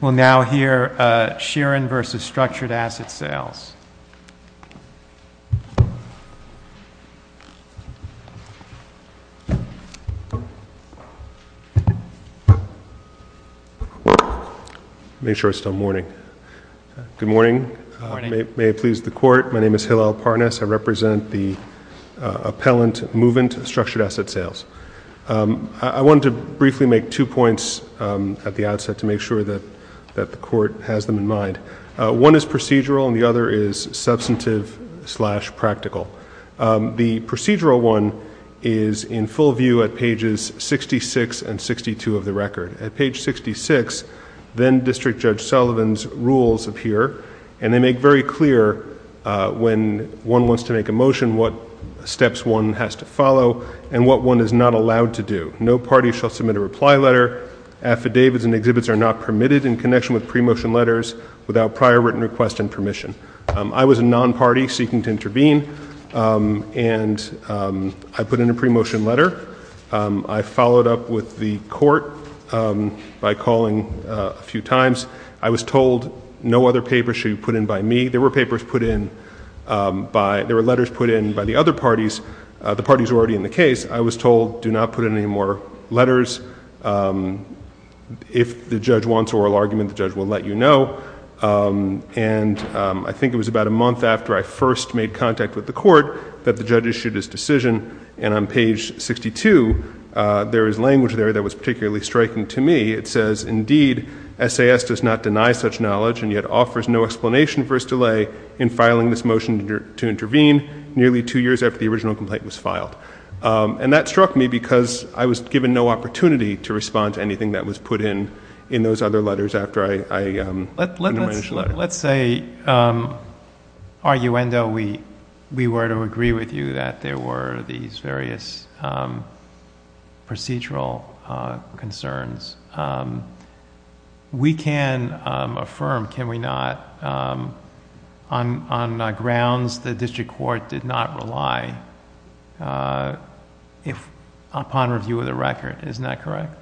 We'll now hear Sheeran v. Structured Asset Sales. Make sure it's still morning. Good morning. May it please the Court, my name is Hillel Parnas. I represent the appellant movement, Structured Asset Sales. I wanted to briefly make two points at the outset to make sure that the Court has them in mind. One is procedural and the other is substantive slash practical. The procedural one is in full view at pages 66 and 62 of the record. At page 66, then District Judge Sullivan's rules appear, and they make very clear when one wants to make a motion, what steps one has to follow and what one is not allowed to do. No party shall submit a reply letter. Affidavits and exhibits are not permitted in connection with pre-motion letters without prior written request and permission. I was a non-party seeking to intervene, and I put in a pre-motion letter. I followed up with the Court by calling a few times. I was told no other papers should be put in by me. There were papers put in by, there were letters put in by the other parties. The parties were already in the case. I was told do not put in any more letters. If the judge wants oral argument, the judge will let you know. And I think it was about a month after I first made contact with the Court that the judge issued his decision. And on page 62, there is language there that was particularly striking to me. It says, indeed, SAS does not deny such knowledge and yet offers no explanation for its delay in filing this motion to intervene, nearly two years after the original complaint was filed. And that struck me because I was given no opportunity to respond to anything that was put in in those other letters after I put in my initial letter. Let's say, arguendo, we were to agree with you that there were these various procedural concerns. We can affirm, can we not, on grounds the district court did not rely upon review of the record. Isn't that correct?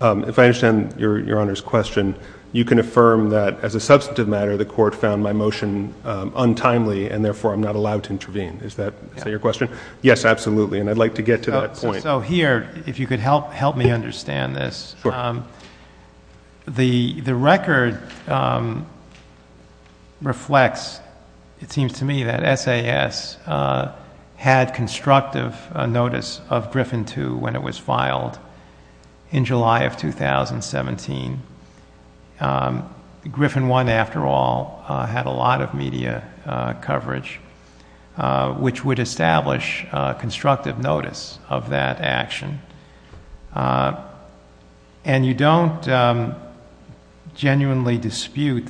If I understand your Honor's question, you can affirm that as a substantive matter, the Court found my motion untimely and therefore I'm not allowed to intervene. Is that your question? Yes, absolutely. And I'd like to get to that point. Sure. The record reflects, it seems to me, that SAS had constructive notice of Griffin 2 when it was filed in July of 2017. Griffin 1, after all, had a lot of media coverage, which would establish constructive notice of that action. And you don't genuinely dispute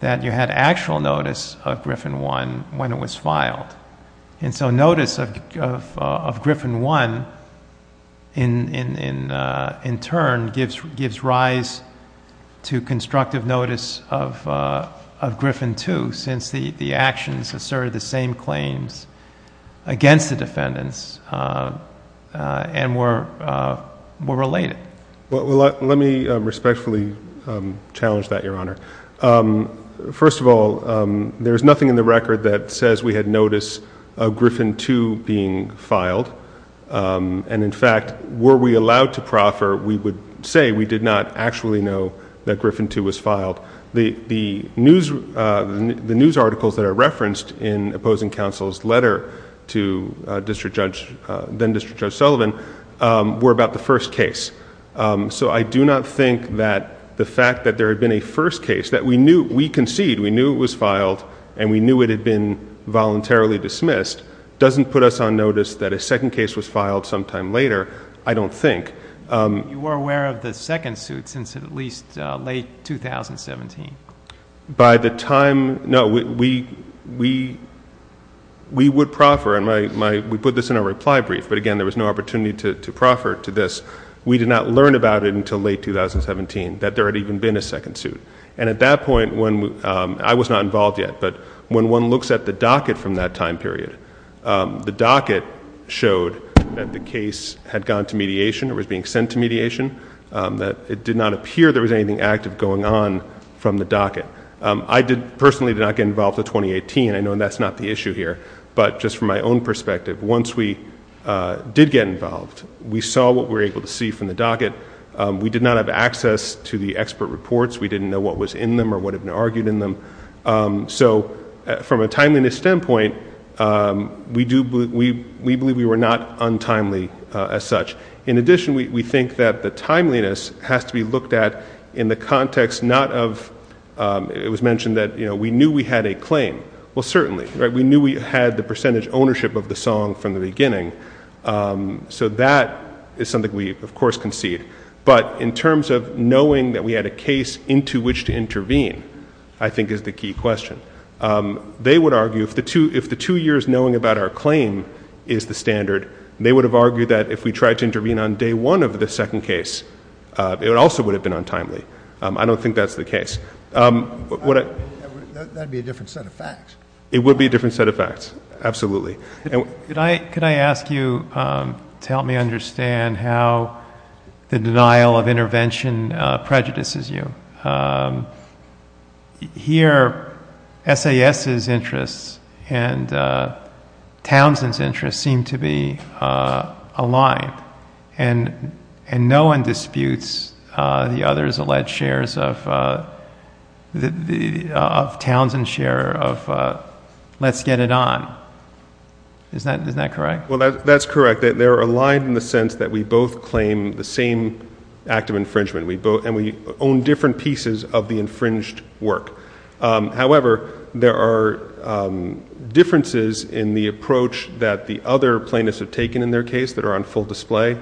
that you had actual notice of Griffin 1 when it was filed. And so notice of Griffin 1, in turn, gives rise to constructive notice of Griffin 2, since the actions asserted the same claims against the defendants and were related. Well, let me respectfully challenge that, your Honor. First of all, there's nothing in the record that says we had notice of Griffin 2 being filed. And in fact, were we allowed to proffer, we would say we did not actually know that Griffin 2 was filed. The news articles that are referenced in opposing counsel's letter to then-District Judge Sullivan were about the first case. So I do not think that the fact that there had been a first case that we knew, we conceded, we knew it was filed, and we knew it had been voluntarily dismissed doesn't put us on notice that a second case was filed sometime later, I don't think. You were aware of the second suit since at least late 2017. By the time, no, we would proffer, and we put this in our reply brief, but again, there was no opportunity to proffer to this. We did not learn about it until late 2017, that there had even been a second suit. And at that point, I was not involved yet, but when one looks at the docket from that time period, the docket showed that the case had gone to mediation or was being sent to mediation, that it did not appear there was anything active going on from the docket. I personally did not get involved until 2018. I know that's not the issue here. But just from my own perspective, once we did get involved, we saw what we were able to see from the docket. We did not have access to the expert reports. We didn't know what was in them or what had been argued in them. So from a timeliness standpoint, we believe we were not untimely as such. In addition, we think that the timeliness has to be looked at in the context not of, it was mentioned that we knew we had a claim. Well, certainly. We knew we had the percentage ownership of the song from the beginning. So that is something we, of course, concede. But in terms of knowing that we had a case into which to intervene, I think is the key question. They would argue if the two years knowing about our claim is the standard, they would have argued that if we tried to intervene on day one of the second case, it also would have been untimely. I don't think that's the case. That would be a different set of facts. It would be a different set of facts. Absolutely. Could I ask you to help me understand how the denial of intervention prejudices you? Here, SAS's interests and Townsend's interests seem to be aligned. And no one disputes the other's alleged shares of Townsend's share of let's get it on. Isn't that correct? Well, that's correct. They're aligned in the sense that we both claim the same act of infringement. And we own different pieces of the infringed work. However, there are differences in the approach that the other plaintiffs have taken in their case that are on full display.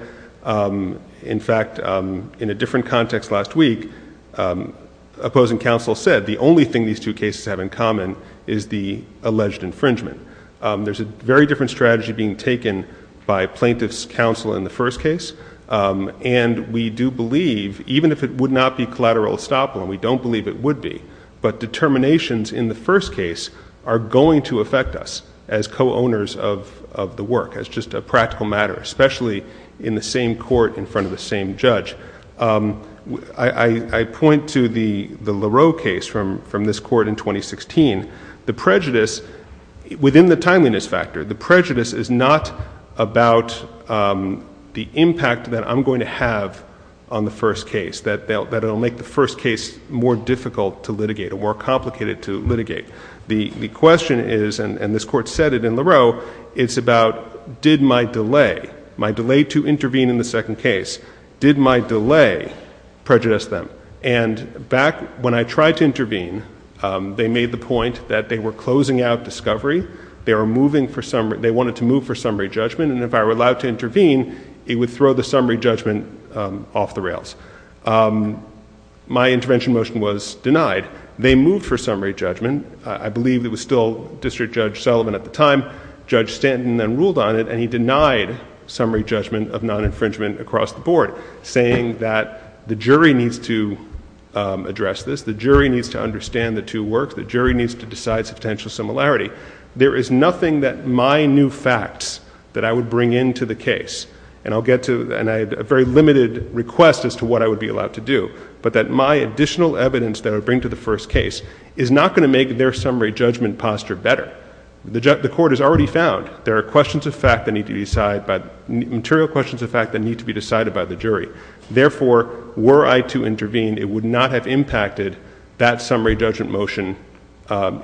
In fact, in a different context last week, opposing counsel said the only thing these two cases have in common is the alleged infringement. There's a very different strategy being taken by plaintiff's counsel in the first case. And we do believe, even if it would not be collateral estoppel, and we don't believe it would be, but determinations in the first case are going to affect us as co-owners of the work, as just a practical matter, especially in the same court in front of the same judge. I point to the Lareau case from this court in 2016. The prejudice, within the timeliness factor, the prejudice is not about the impact that I'm going to have on the first case, that it will make the first case more difficult to litigate or more complicated to litigate. The question is, and this court said it in Lareau, it's about did my delay, my delay to intervene in the second case, did my delay prejudice them? And back when I tried to intervene, they made the point that they were closing out discovery. They wanted to move for summary judgment. And if I were allowed to intervene, it would throw the summary judgment off the rails. My intervention motion was denied. They moved for summary judgment. I believe it was still District Judge Sullivan at the time. Judge Stanton then ruled on it, and he denied summary judgment of non-infringement across the board, saying that the jury needs to address this, the jury needs to understand the two works, the jury needs to decide substantial similarity. There is nothing that my new facts that I would bring into the case, and I'll get to a very limited request as to what I would be allowed to do, but that my additional evidence that I would bring to the first case is not going to make their summary judgment posture better. The court has already found there are questions of fact that need to be decided, material questions of fact that need to be decided by the jury. Therefore, were I to intervene, it would not have impacted that summary judgment motion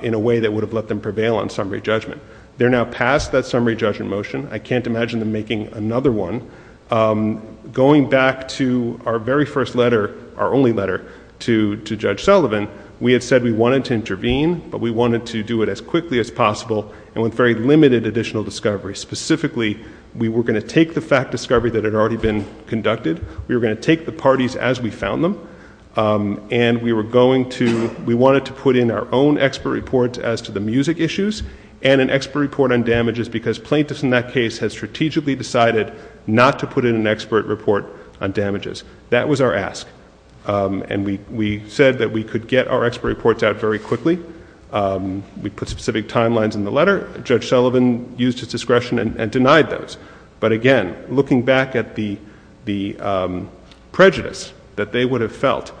in a way that would have let them prevail on summary judgment. They're now past that summary judgment motion. I can't imagine them making another one. Going back to our very first letter, our only letter to Judge Sullivan, we had said we wanted to intervene, but we wanted to do it as quickly as possible and with very limited additional discovery. Specifically, we were going to take the fact discovery that had already been conducted, we were going to take the parties as we found them, and we wanted to put in our own expert report as to the music issues and an expert report on damages because plaintiffs in that case had strategically decided not to put in an expert report on damages. That was our ask, and we said that we could get our expert reports out very quickly. We put specific timelines in the letter. Judge Sullivan used his discretion and denied those. But again, looking back at the prejudice that they would have felt,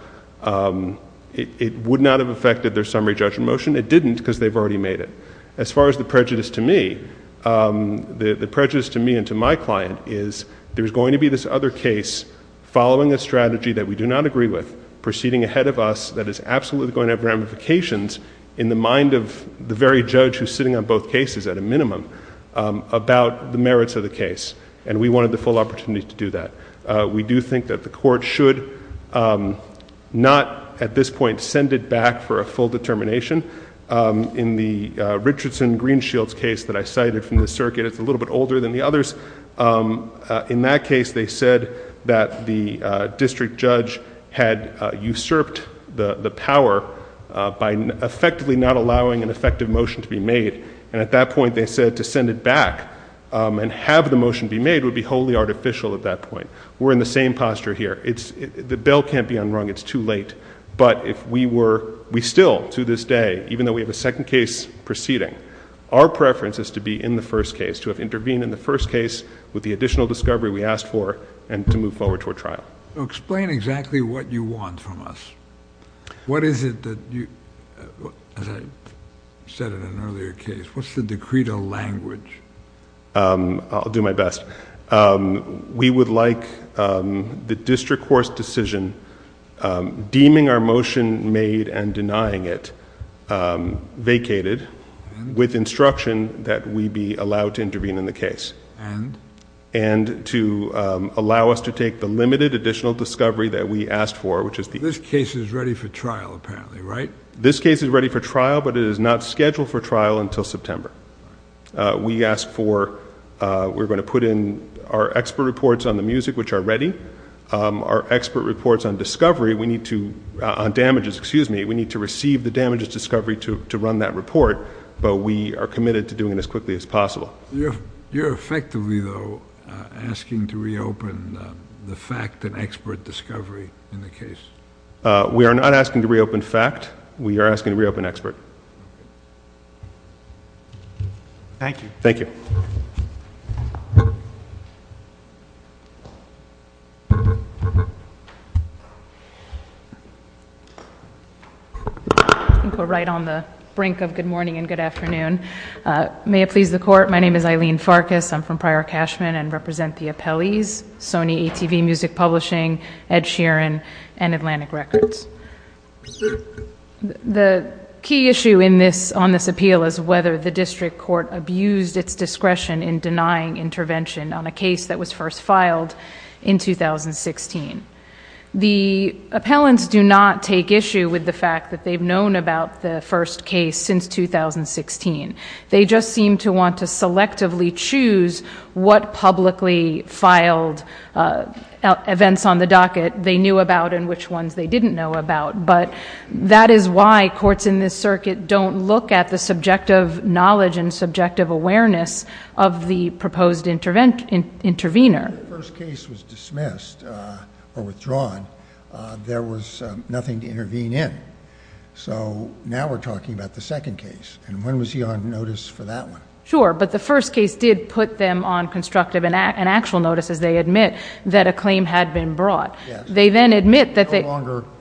it would not have affected their summary judgment motion. It didn't because they've already made it. As far as the prejudice to me, the prejudice to me and to my client is there's going to be this other case following a strategy that we do not agree with proceeding ahead of us that is absolutely going to have ramifications in the mind of the very judge who's sitting on both cases at a minimum about the merits of the case, and we wanted the full opportunity to do that. We do think that the court should not at this point send it back for a full determination. In the Richardson-Greenshields case that I cited from the circuit, it's a little bit older than the others. In that case, they said that the district judge had usurped the power by effectively not allowing an effective motion to be made, and at that point they said to send it back and have the motion be made would be wholly artificial at that point. We're in the same posture here. The bell can't be unrung. It's too late, but if we were... We still, to this day, even though we have a second case proceeding, our preference is to be in the first case, to have intervened in the first case with the additional discovery we asked for and to move forward to a trial. Explain exactly what you want from us. What is it that you... As I said in an earlier case, what's the decree to language? I'll do my best. We would like the district court's decision deeming our motion made and denying it vacated with instruction that we be allowed to intervene in the case and to allow us to take the limited additional discovery that we asked for, which is the... This case is ready for trial, apparently, right? This case is ready for trial, but it is not scheduled for trial until September. We asked for... We're going to put in our expert reports on the music, which are ready. Our expert reports on discovery, we need to... to run that report, but we are committed to doing it as quickly as possible. You're effectively, though, asking to reopen the fact and expert discovery in the case? We are not asking to reopen fact. We are asking to reopen expert. Thank you. Thank you. I think we're right on the brink of good morning and good afternoon. May it please the court, my name is Eileen Farkas. I'm from Prior Cashman and represent the Appellees, Sony ATV Music Publishing, Ed Sheeran, and Atlantic Records. The key issue on this appeal is whether the district court abused its discretion in denying intervention on a case that was first filed in 2016. The appellants do not take issue with the fact that they've known about the first case since 2016. They just seem to want to selectively choose what publicly filed events on the docket they knew about and which ones they didn't know about. But that is why courts in this circuit don't look at the subjective knowledge and subjective awareness of the proposed intervener. When the first case was dismissed or withdrawn, there was nothing to intervene in. So now we're talking about the second case, and when was he on notice for that one? Sure, but the first case did put them on constructive and actual notice, as they admit, that a claim had been brought. They then admit that they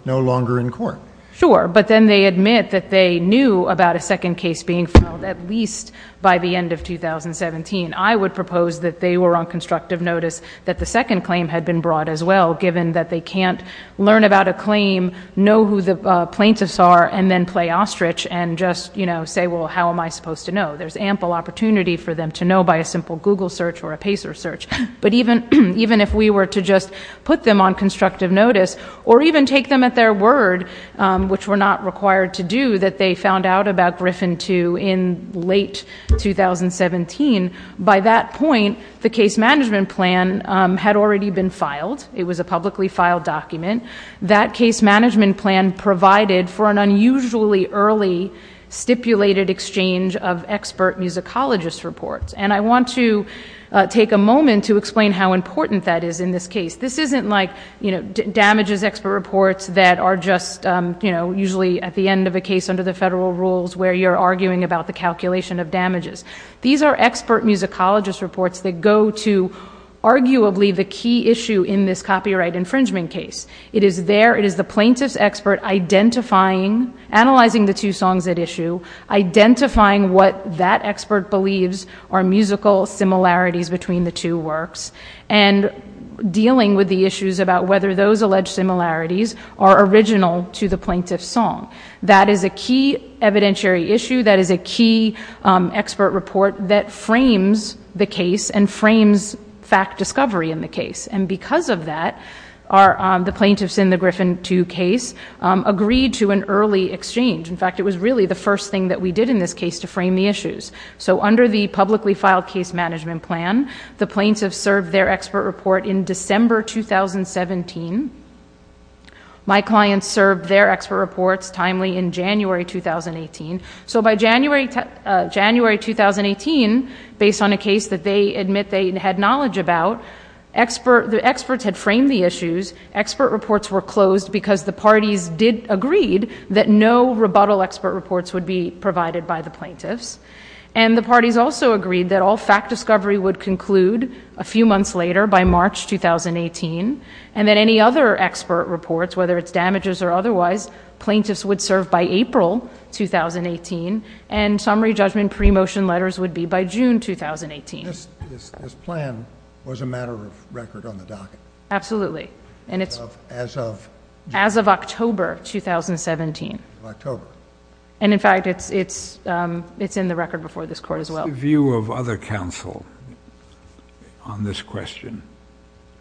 No longer in court. Sure, but then they admit that they knew about a second case being filed at least by the end of 2017. I would propose that they were on constructive notice that the second claim had been brought as well, given that they can't learn about a claim, know who the plaintiffs are, and then play ostrich and just say, well, how am I supposed to know? There's ample opportunity for them to know by a simple Google search or a Pacer search. But even if we were to just put them on constructive notice or even take them at their word, which we're not required to do, that they found out about Griffin II in late 2017, by that point, the case management plan had already been filed. It was a publicly filed document. That case management plan provided for an unusually early stipulated exchange of expert musicologist reports. And I want to take a moment to explain how important that is in this case. This isn't like damages expert reports that are just usually at the end of a case under the federal rules where you're arguing about the calculation of damages. These are expert musicologist reports that go to arguably the key issue in this copyright infringement case. It is there. It is the plaintiff's expert identifying, analyzing the two songs at issue, identifying what that expert believes are musical similarities between the two works, and dealing with the issues about whether those alleged similarities are original to the plaintiff's song. That is a key evidentiary issue. That is a key expert report that frames the case and frames fact discovery in the case. And because of that, the plaintiffs in the Griffin II case agreed to an early exchange. In fact, it was really the first thing that we did in this case to frame the issues. So under the publicly filed case management plan, the plaintiffs served their expert report in December 2017. My clients served their expert reports timely in January 2018. So by January 2018, based on a case that they admit they had knowledge about, the experts had framed the issues. Expert reports were closed because the parties did agree that no rebuttal expert reports would be provided by the plaintiffs. And the parties also agreed that all fact discovery would conclude a few months later, by March 2018, and that any other expert reports, whether it's damages or otherwise, plaintiffs would serve by April 2018, and summary judgment pre-motion letters would be by June 2018. Absolutely. As of? As of October 2017. October. And in fact, it's in the record before this court as well. What's the view of other counsel on this question?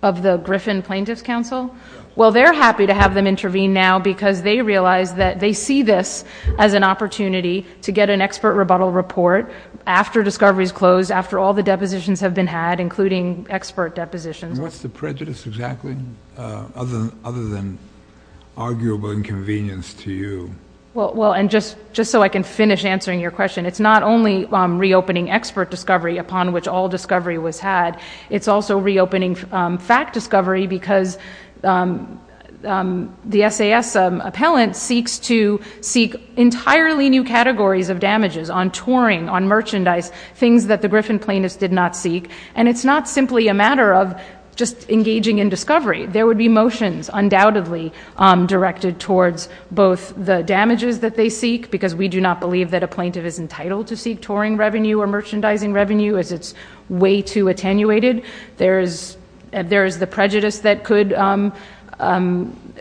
Of the Griffin Plaintiffs' Counsel? Yes. Well, they're happy to have them intervene now because they realize that they see this as an opportunity to get an expert rebuttal report after discovery is closed, after all the depositions have been had, including expert depositions. And what's the prejudice exactly, other than arguable inconvenience to you? Well, and just so I can finish answering your question, it's not only reopening expert discovery upon which all discovery was had, it's also reopening fact discovery because the SAS appellant seeks to seek entirely new categories of damages, on touring, on merchandise, things that the Griffin Plaintiffs did not seek, and it's not simply a matter of just engaging in discovery. There would be motions undoubtedly directed towards both the damages that they seek, because we do not believe that a plaintiff is entitled to seek touring revenue or merchandising revenue as it's way too attenuated. There is the prejudice that could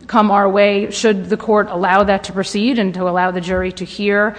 come our way should the court allow that to proceed and to allow the jury to hear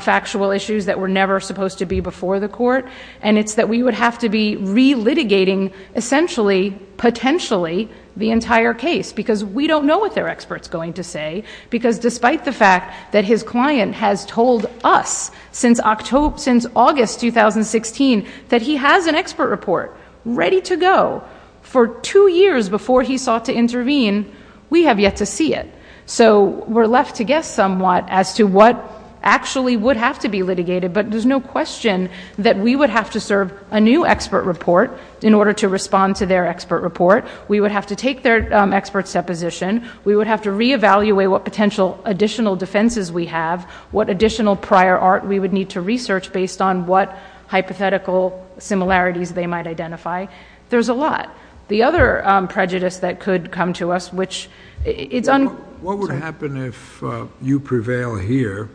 factual issues that were never supposed to be before the court, and it's that we would have to be re-litigating essentially, potentially, the entire case, because we don't know what their expert's going to say, because despite the fact that his client has told us since August 2016 that he has an expert report ready to go for two years before he sought to intervene, we have yet to see it. So we're left to guess somewhat as to what actually would have to be litigated, but there's no question that we would have to serve a new expert report in order to respond to their expert report. We would have to take their expert's deposition. We would have to re-evaluate what potential additional defenses we have, what additional prior art we would need to research based on what hypothetical similarities they might identify. There's a lot. The other prejudice that could come to us, which it's— What would happen if you prevail here,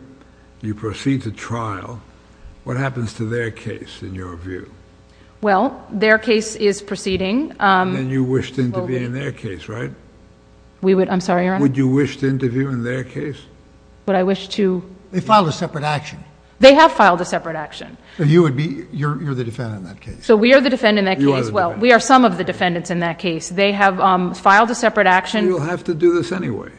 you proceed to trial, what happens to their case in your view? Well, their case is proceeding. Then you wished to intervene in their case, right? I'm sorry, Your Honor? Would you wish to intervene in their case? Would I wish to— They filed a separate action. They have filed a separate action. You're the defendant in that case. So we are the defendant in that case. You are the defendant. Well, we are some of the defendants in that case. They have filed a separate action. We will have to do this anyway.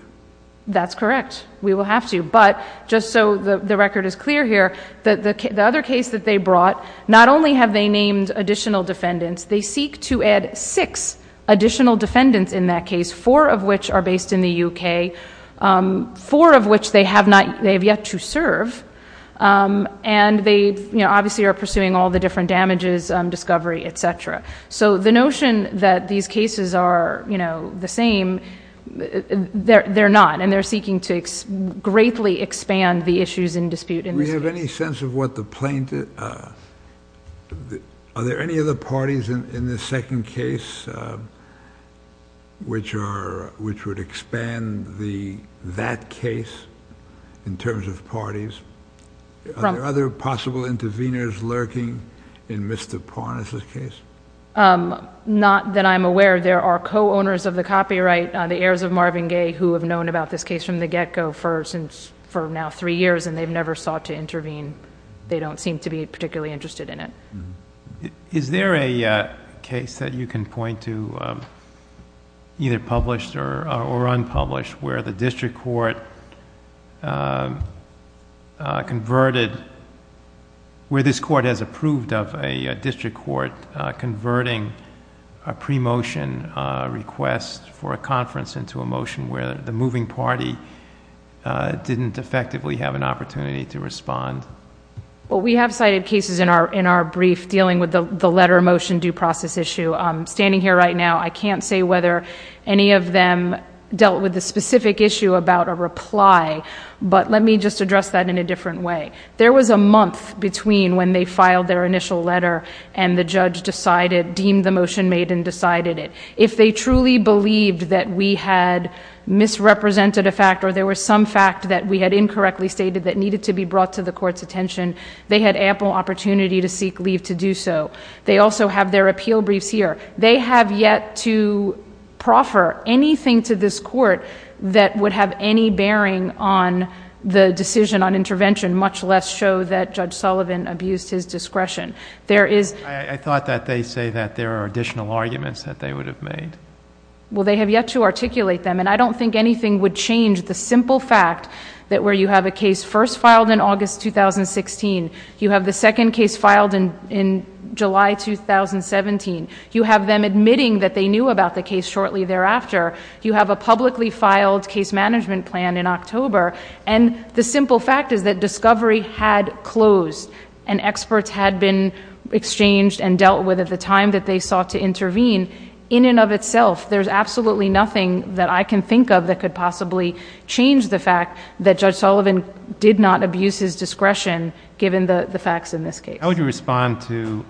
That's correct. We will have to, but just so the record is clear here, the other case that they brought, not only have they named additional defendants, they seek to add six additional defendants in that case, four of which are based in the U.K., four of which they have yet to serve, and they obviously are pursuing all the different damages, discovery, et cetera. So the notion that these cases are, you know, the same, they're not, and they're seeking to greatly expand the issues in dispute in this case. Do we have any sense of what the plaintiff— are there any other parties in this second case which would expand that case in terms of parties? Are there other possible interveners lurking in midst of pawn in this case? Not that I'm aware of. There are co-owners of the copyright, the heirs of Marvin Gaye, who have known about this case from the get-go for now three years, and they've never sought to intervene. They don't seem to be particularly interested in it. Is there a case that you can point to, either published or unpublished, where the district court converted— where this court has approved of a district court converting a pre-motion request for a conference into a motion where the moving party didn't effectively have an opportunity to respond? Well, we have cited cases in our brief dealing with the letter motion due process issue. Standing here right now, I can't say whether any of them dealt with the specific issue about a reply, but let me just address that in a different way. There was a month between when they filed their initial letter and the judge decided—deemed the motion made and decided it. If they truly believed that we had misrepresented a fact or there was some fact that we had incorrectly stated that needed to be brought to the court's attention, they had ample opportunity to seek leave to do so. They also have their appeal briefs here. They have yet to proffer anything to this court that would have any bearing on the decision on intervention, much less show that Judge Sullivan abused his discretion. There is— I thought that they say that there are additional arguments that they would have made. Well, they have yet to articulate them, and I don't think anything would change the simple fact that where you have a case first filed in August 2016, you have the second case filed in July 2017, you have them admitting that they knew about the case shortly thereafter, you have a publicly filed case management plan in October, and the simple fact is that discovery had closed and experts had been exchanged and dealt with at the time that they sought to intervene. In and of itself, there's absolutely nothing that I can think of that could possibly change the fact that Judge Sullivan did not abuse his discretion, given the facts in this case. How would you respond to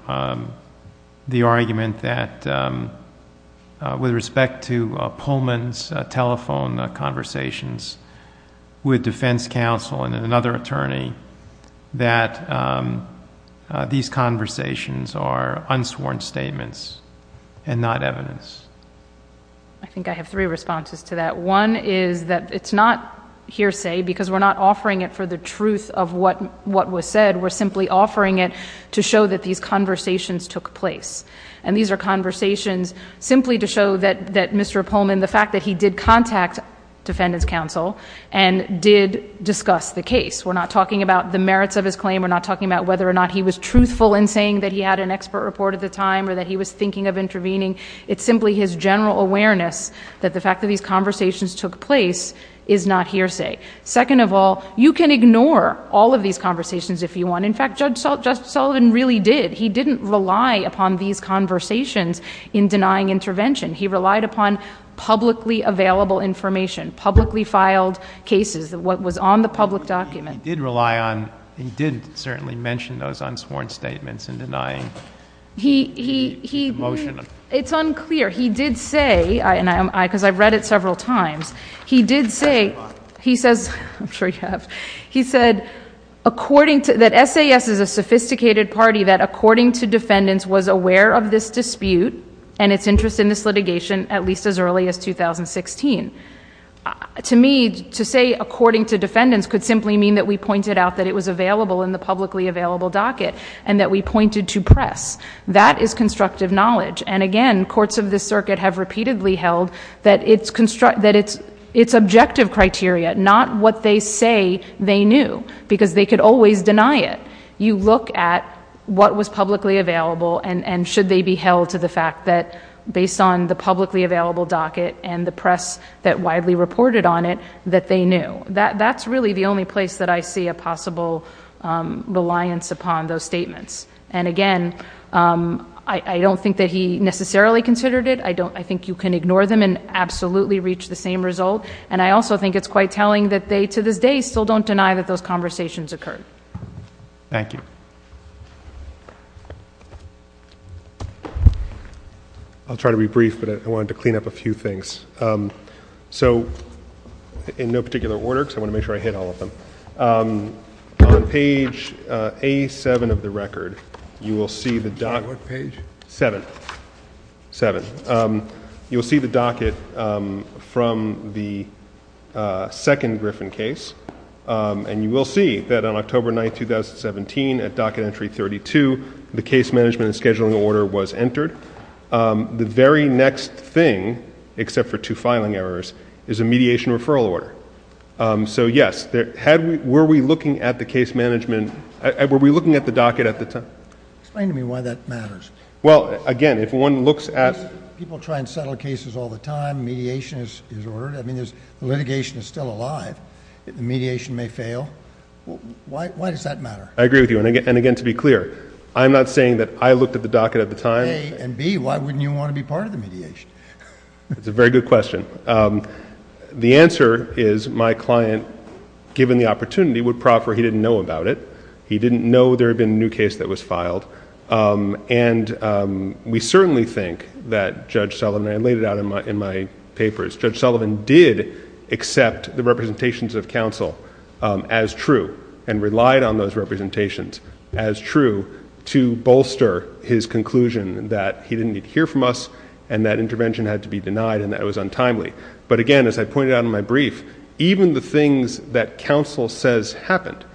the argument that with respect to Pullman's telephone conversations with defense counsel and another attorney, that these conversations are unsworn statements and not evidence? I think I have three responses to that. One is that it's not hearsay because we're not offering it for the truth of what was said. We're simply offering it to show that these conversations took place, and these are conversations simply to show that Mr. Pullman, the fact that he did contact defendant's counsel and did discuss the case. We're not talking about the merits of his claim. We're not talking about whether or not he was truthful in saying that he had an expert report at the time or that he was thinking of intervening. It's simply his general awareness that the fact that these conversations took place is not hearsay. Second of all, you can ignore all of these conversations if you want. In fact, Judge Sullivan really did. He didn't rely upon these conversations in denying intervention. He relied upon publicly available information, publicly filed cases, what was on the public document. He did rely on and he did certainly mention those unsworn statements in denying the motion. It's unclear. He did say, because I've read it several times, he did say, he says, I'm sure you have, he said that SAS is a sophisticated party that according to defendants was aware of this dispute and its interest in this litigation at least as early as 2016. To me, to say according to defendants could simply mean that we pointed out that it was available in the publicly available docket and that we pointed to press. That is constructive knowledge. And again, courts of this circuit have repeatedly held that it's objective criteria, not what they say they knew because they could always deny it. You look at what was publicly available and should they be held to the fact that based on the publicly available docket and the press that widely reported on it that they knew. That's really the only place that I see a possible reliance upon those statements. And again, I don't think that he necessarily considered it. I think you can ignore them and absolutely reach the same result. And I also think it's quite telling that they to this day still don't deny that those conversations occurred. Thank you. I'll try to be brief, but I wanted to clean up a few things. So in no particular order, because I want to make sure I hit all of them. On page A7 of the record, you will see the docket... On what page? 7. 7. You will see the docket from the second Griffin case. And you will see that on October 9th, 2017, at docket entry 32, the case management and scheduling order was entered. The very next thing, except for two filing errors, is a mediation referral order. So yes, were we looking at the case management... were we looking at the docket at the time? Explain to me why that matters. Well, again, if one looks at... People try and settle cases all the time. Mediation is ordered. I mean, the litigation is still alive. The mediation may fail. Why does that matter? I agree with you. And again, to be clear, I'm not saying that I looked at the docket at the time. A, and B, why wouldn't you want to be part of the mediation? That's a very good question. The answer is my client, given the opportunity, would proffer he didn't know about it. He didn't know there had been a new case that was filed. And we certainly think that Judge Sullivan... did accept the representations of counsel as true... and relied on those representations as true... to bolster his conclusion that he didn't need to hear from us... and that intervention had to be denied and that it was untimely. But again, as I pointed out in my brief, even the things that counsel says happened...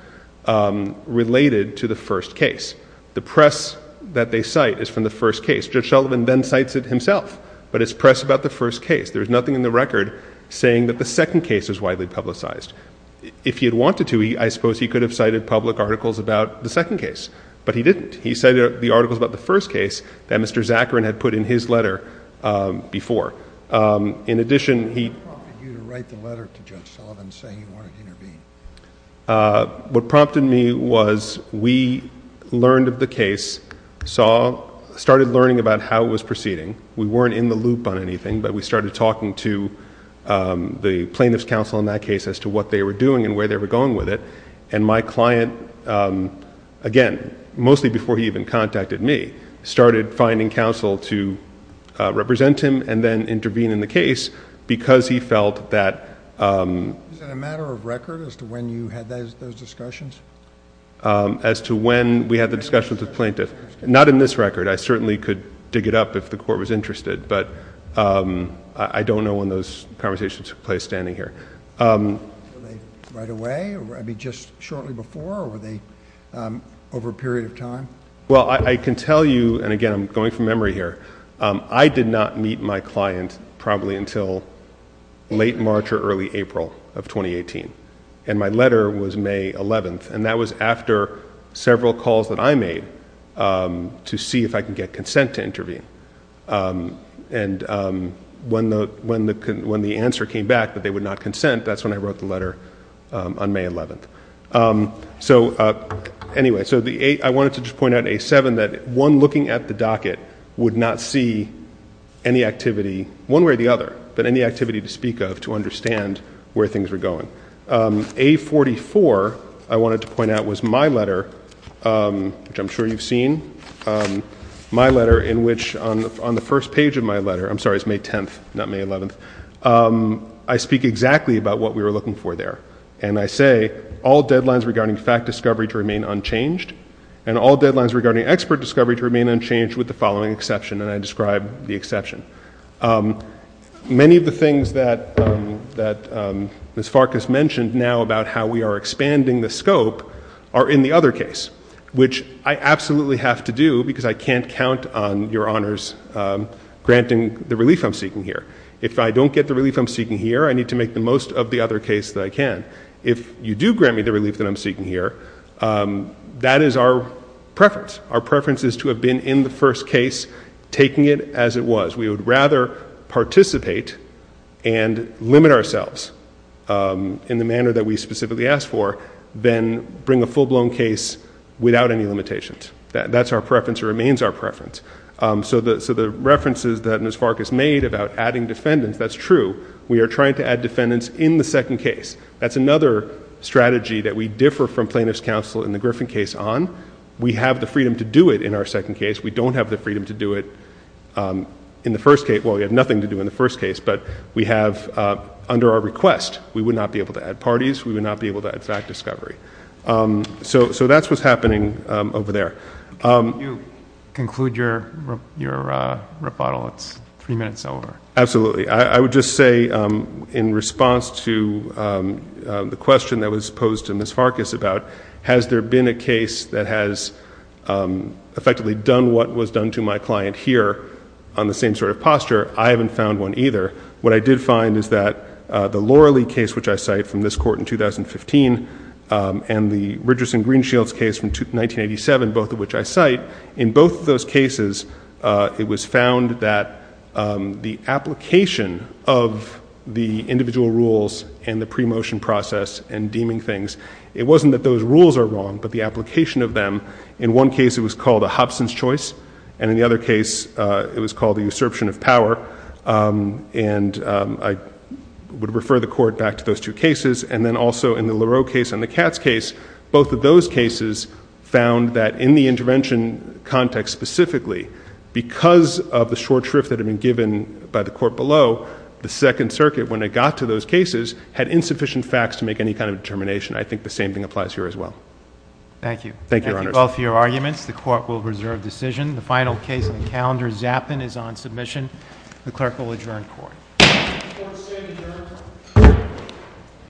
related to the first case. The press that they cite is from the first case. Judge Sullivan then cites it himself. But it's press about the first case. There's nothing in the record saying that the second case was widely publicized. If he had wanted to, I suppose he could have cited public articles about the second case. But he didn't. He cited the articles about the first case that Mr. Zacharin had put in his letter before. In addition, he... What prompted you to write the letter to Judge Sullivan saying you wanted to intervene? What prompted me was we learned of the case, saw... started learning about how it was proceeding. We weren't in the loop on anything, but we started talking to the plaintiff's counsel in that case... as to what they were doing and where they were going with it. And my client, again, mostly before he even contacted me... started finding counsel to represent him and then intervene in the case... because he felt that... Is it a matter of record as to when you had those discussions? As to when we had the discussions with the plaintiff. Not in this record. I certainly could dig it up if the Court was interested. But, I don't know when those conversations took place standing here. Were they right away? I mean, just shortly before? Or were they over a period of time? Well, I can tell you, and again, I'm going from memory here. I did not meet my client probably until late March or early April of 2018. And my letter was May 11th. And that was after several calls that I made to see if I could get consent to intervene. And when the answer came back that they would not consent... that's when I wrote the letter on May 11th. So, anyway, I wanted to just point out in A7 that one looking at the docket... would not see any activity, one way or the other... but any activity to speak of to understand where things were going. A44, I wanted to point out, was my letter, which I'm sure you've seen. My letter in which, on the first page of my letter... I'm sorry, it's May 10th, not May 11th. I speak exactly about what we were looking for there. And I say, all deadlines regarding fact discovery to remain unchanged... and all deadlines regarding expert discovery to remain unchanged... with the following exception. And I describe the exception. Many of the things that Ms. Farkas mentioned now about how we are expanding the scope... are in the other case, which I absolutely have to do... because I can't count on Your Honors granting the relief I'm seeking here. If I don't get the relief I'm seeking here, I need to make the most of the other case that I can. If you do grant me the relief that I'm seeking here, that is our preference. Our preference is to have been in the first case, taking it as it was. We would rather participate and limit ourselves... in the manner that we specifically asked for... than bring a full-blown case without any limitations. That's our preference or remains our preference. So, the references that Ms. Farkas made about adding defendants, that's true. We are trying to add defendants in the second case. That's another strategy that we differ from plaintiff's counsel in the Griffin case on. We have the freedom to do it in our second case. We don't have the freedom to do it in the first case. Well, we have nothing to do in the first case, but we have under our request. We would not be able to add parties. We would not be able to add fact discovery. So, that's what's happening over there. Can you conclude your rebuttal? It's three minutes over. Absolutely. I would just say in response to the question that was posed to Ms. Farkas about... what was done to my client here on the same sort of posture, I haven't found one either. What I did find is that the Laura Lee case, which I cite from this court in 2015... and the Richardson-Greenshields case from 1987, both of which I cite. In both of those cases, it was found that the application of the individual rules... and the pre-motion process and deeming things. It wasn't that those rules are wrong, but the application of them. In one case, it was called a Hobson's choice. And, in the other case, it was called the usurpation of power. And, I would refer the court back to those two cases. And then also, in the Laureau case and the Katz case... both of those cases found that in the intervention context specifically... because of the short shrift that had been given by the court below... the Second Circuit, when it got to those cases, had insufficient facts to make any kind of determination. I think the same thing applies here as well. Thank you. Thank you, Your Honor. Thank you both for your arguments. The court will reserve decision. The final case on the calendar, Zappin, is on submission. The clerk will adjourn court. Court is adjourned.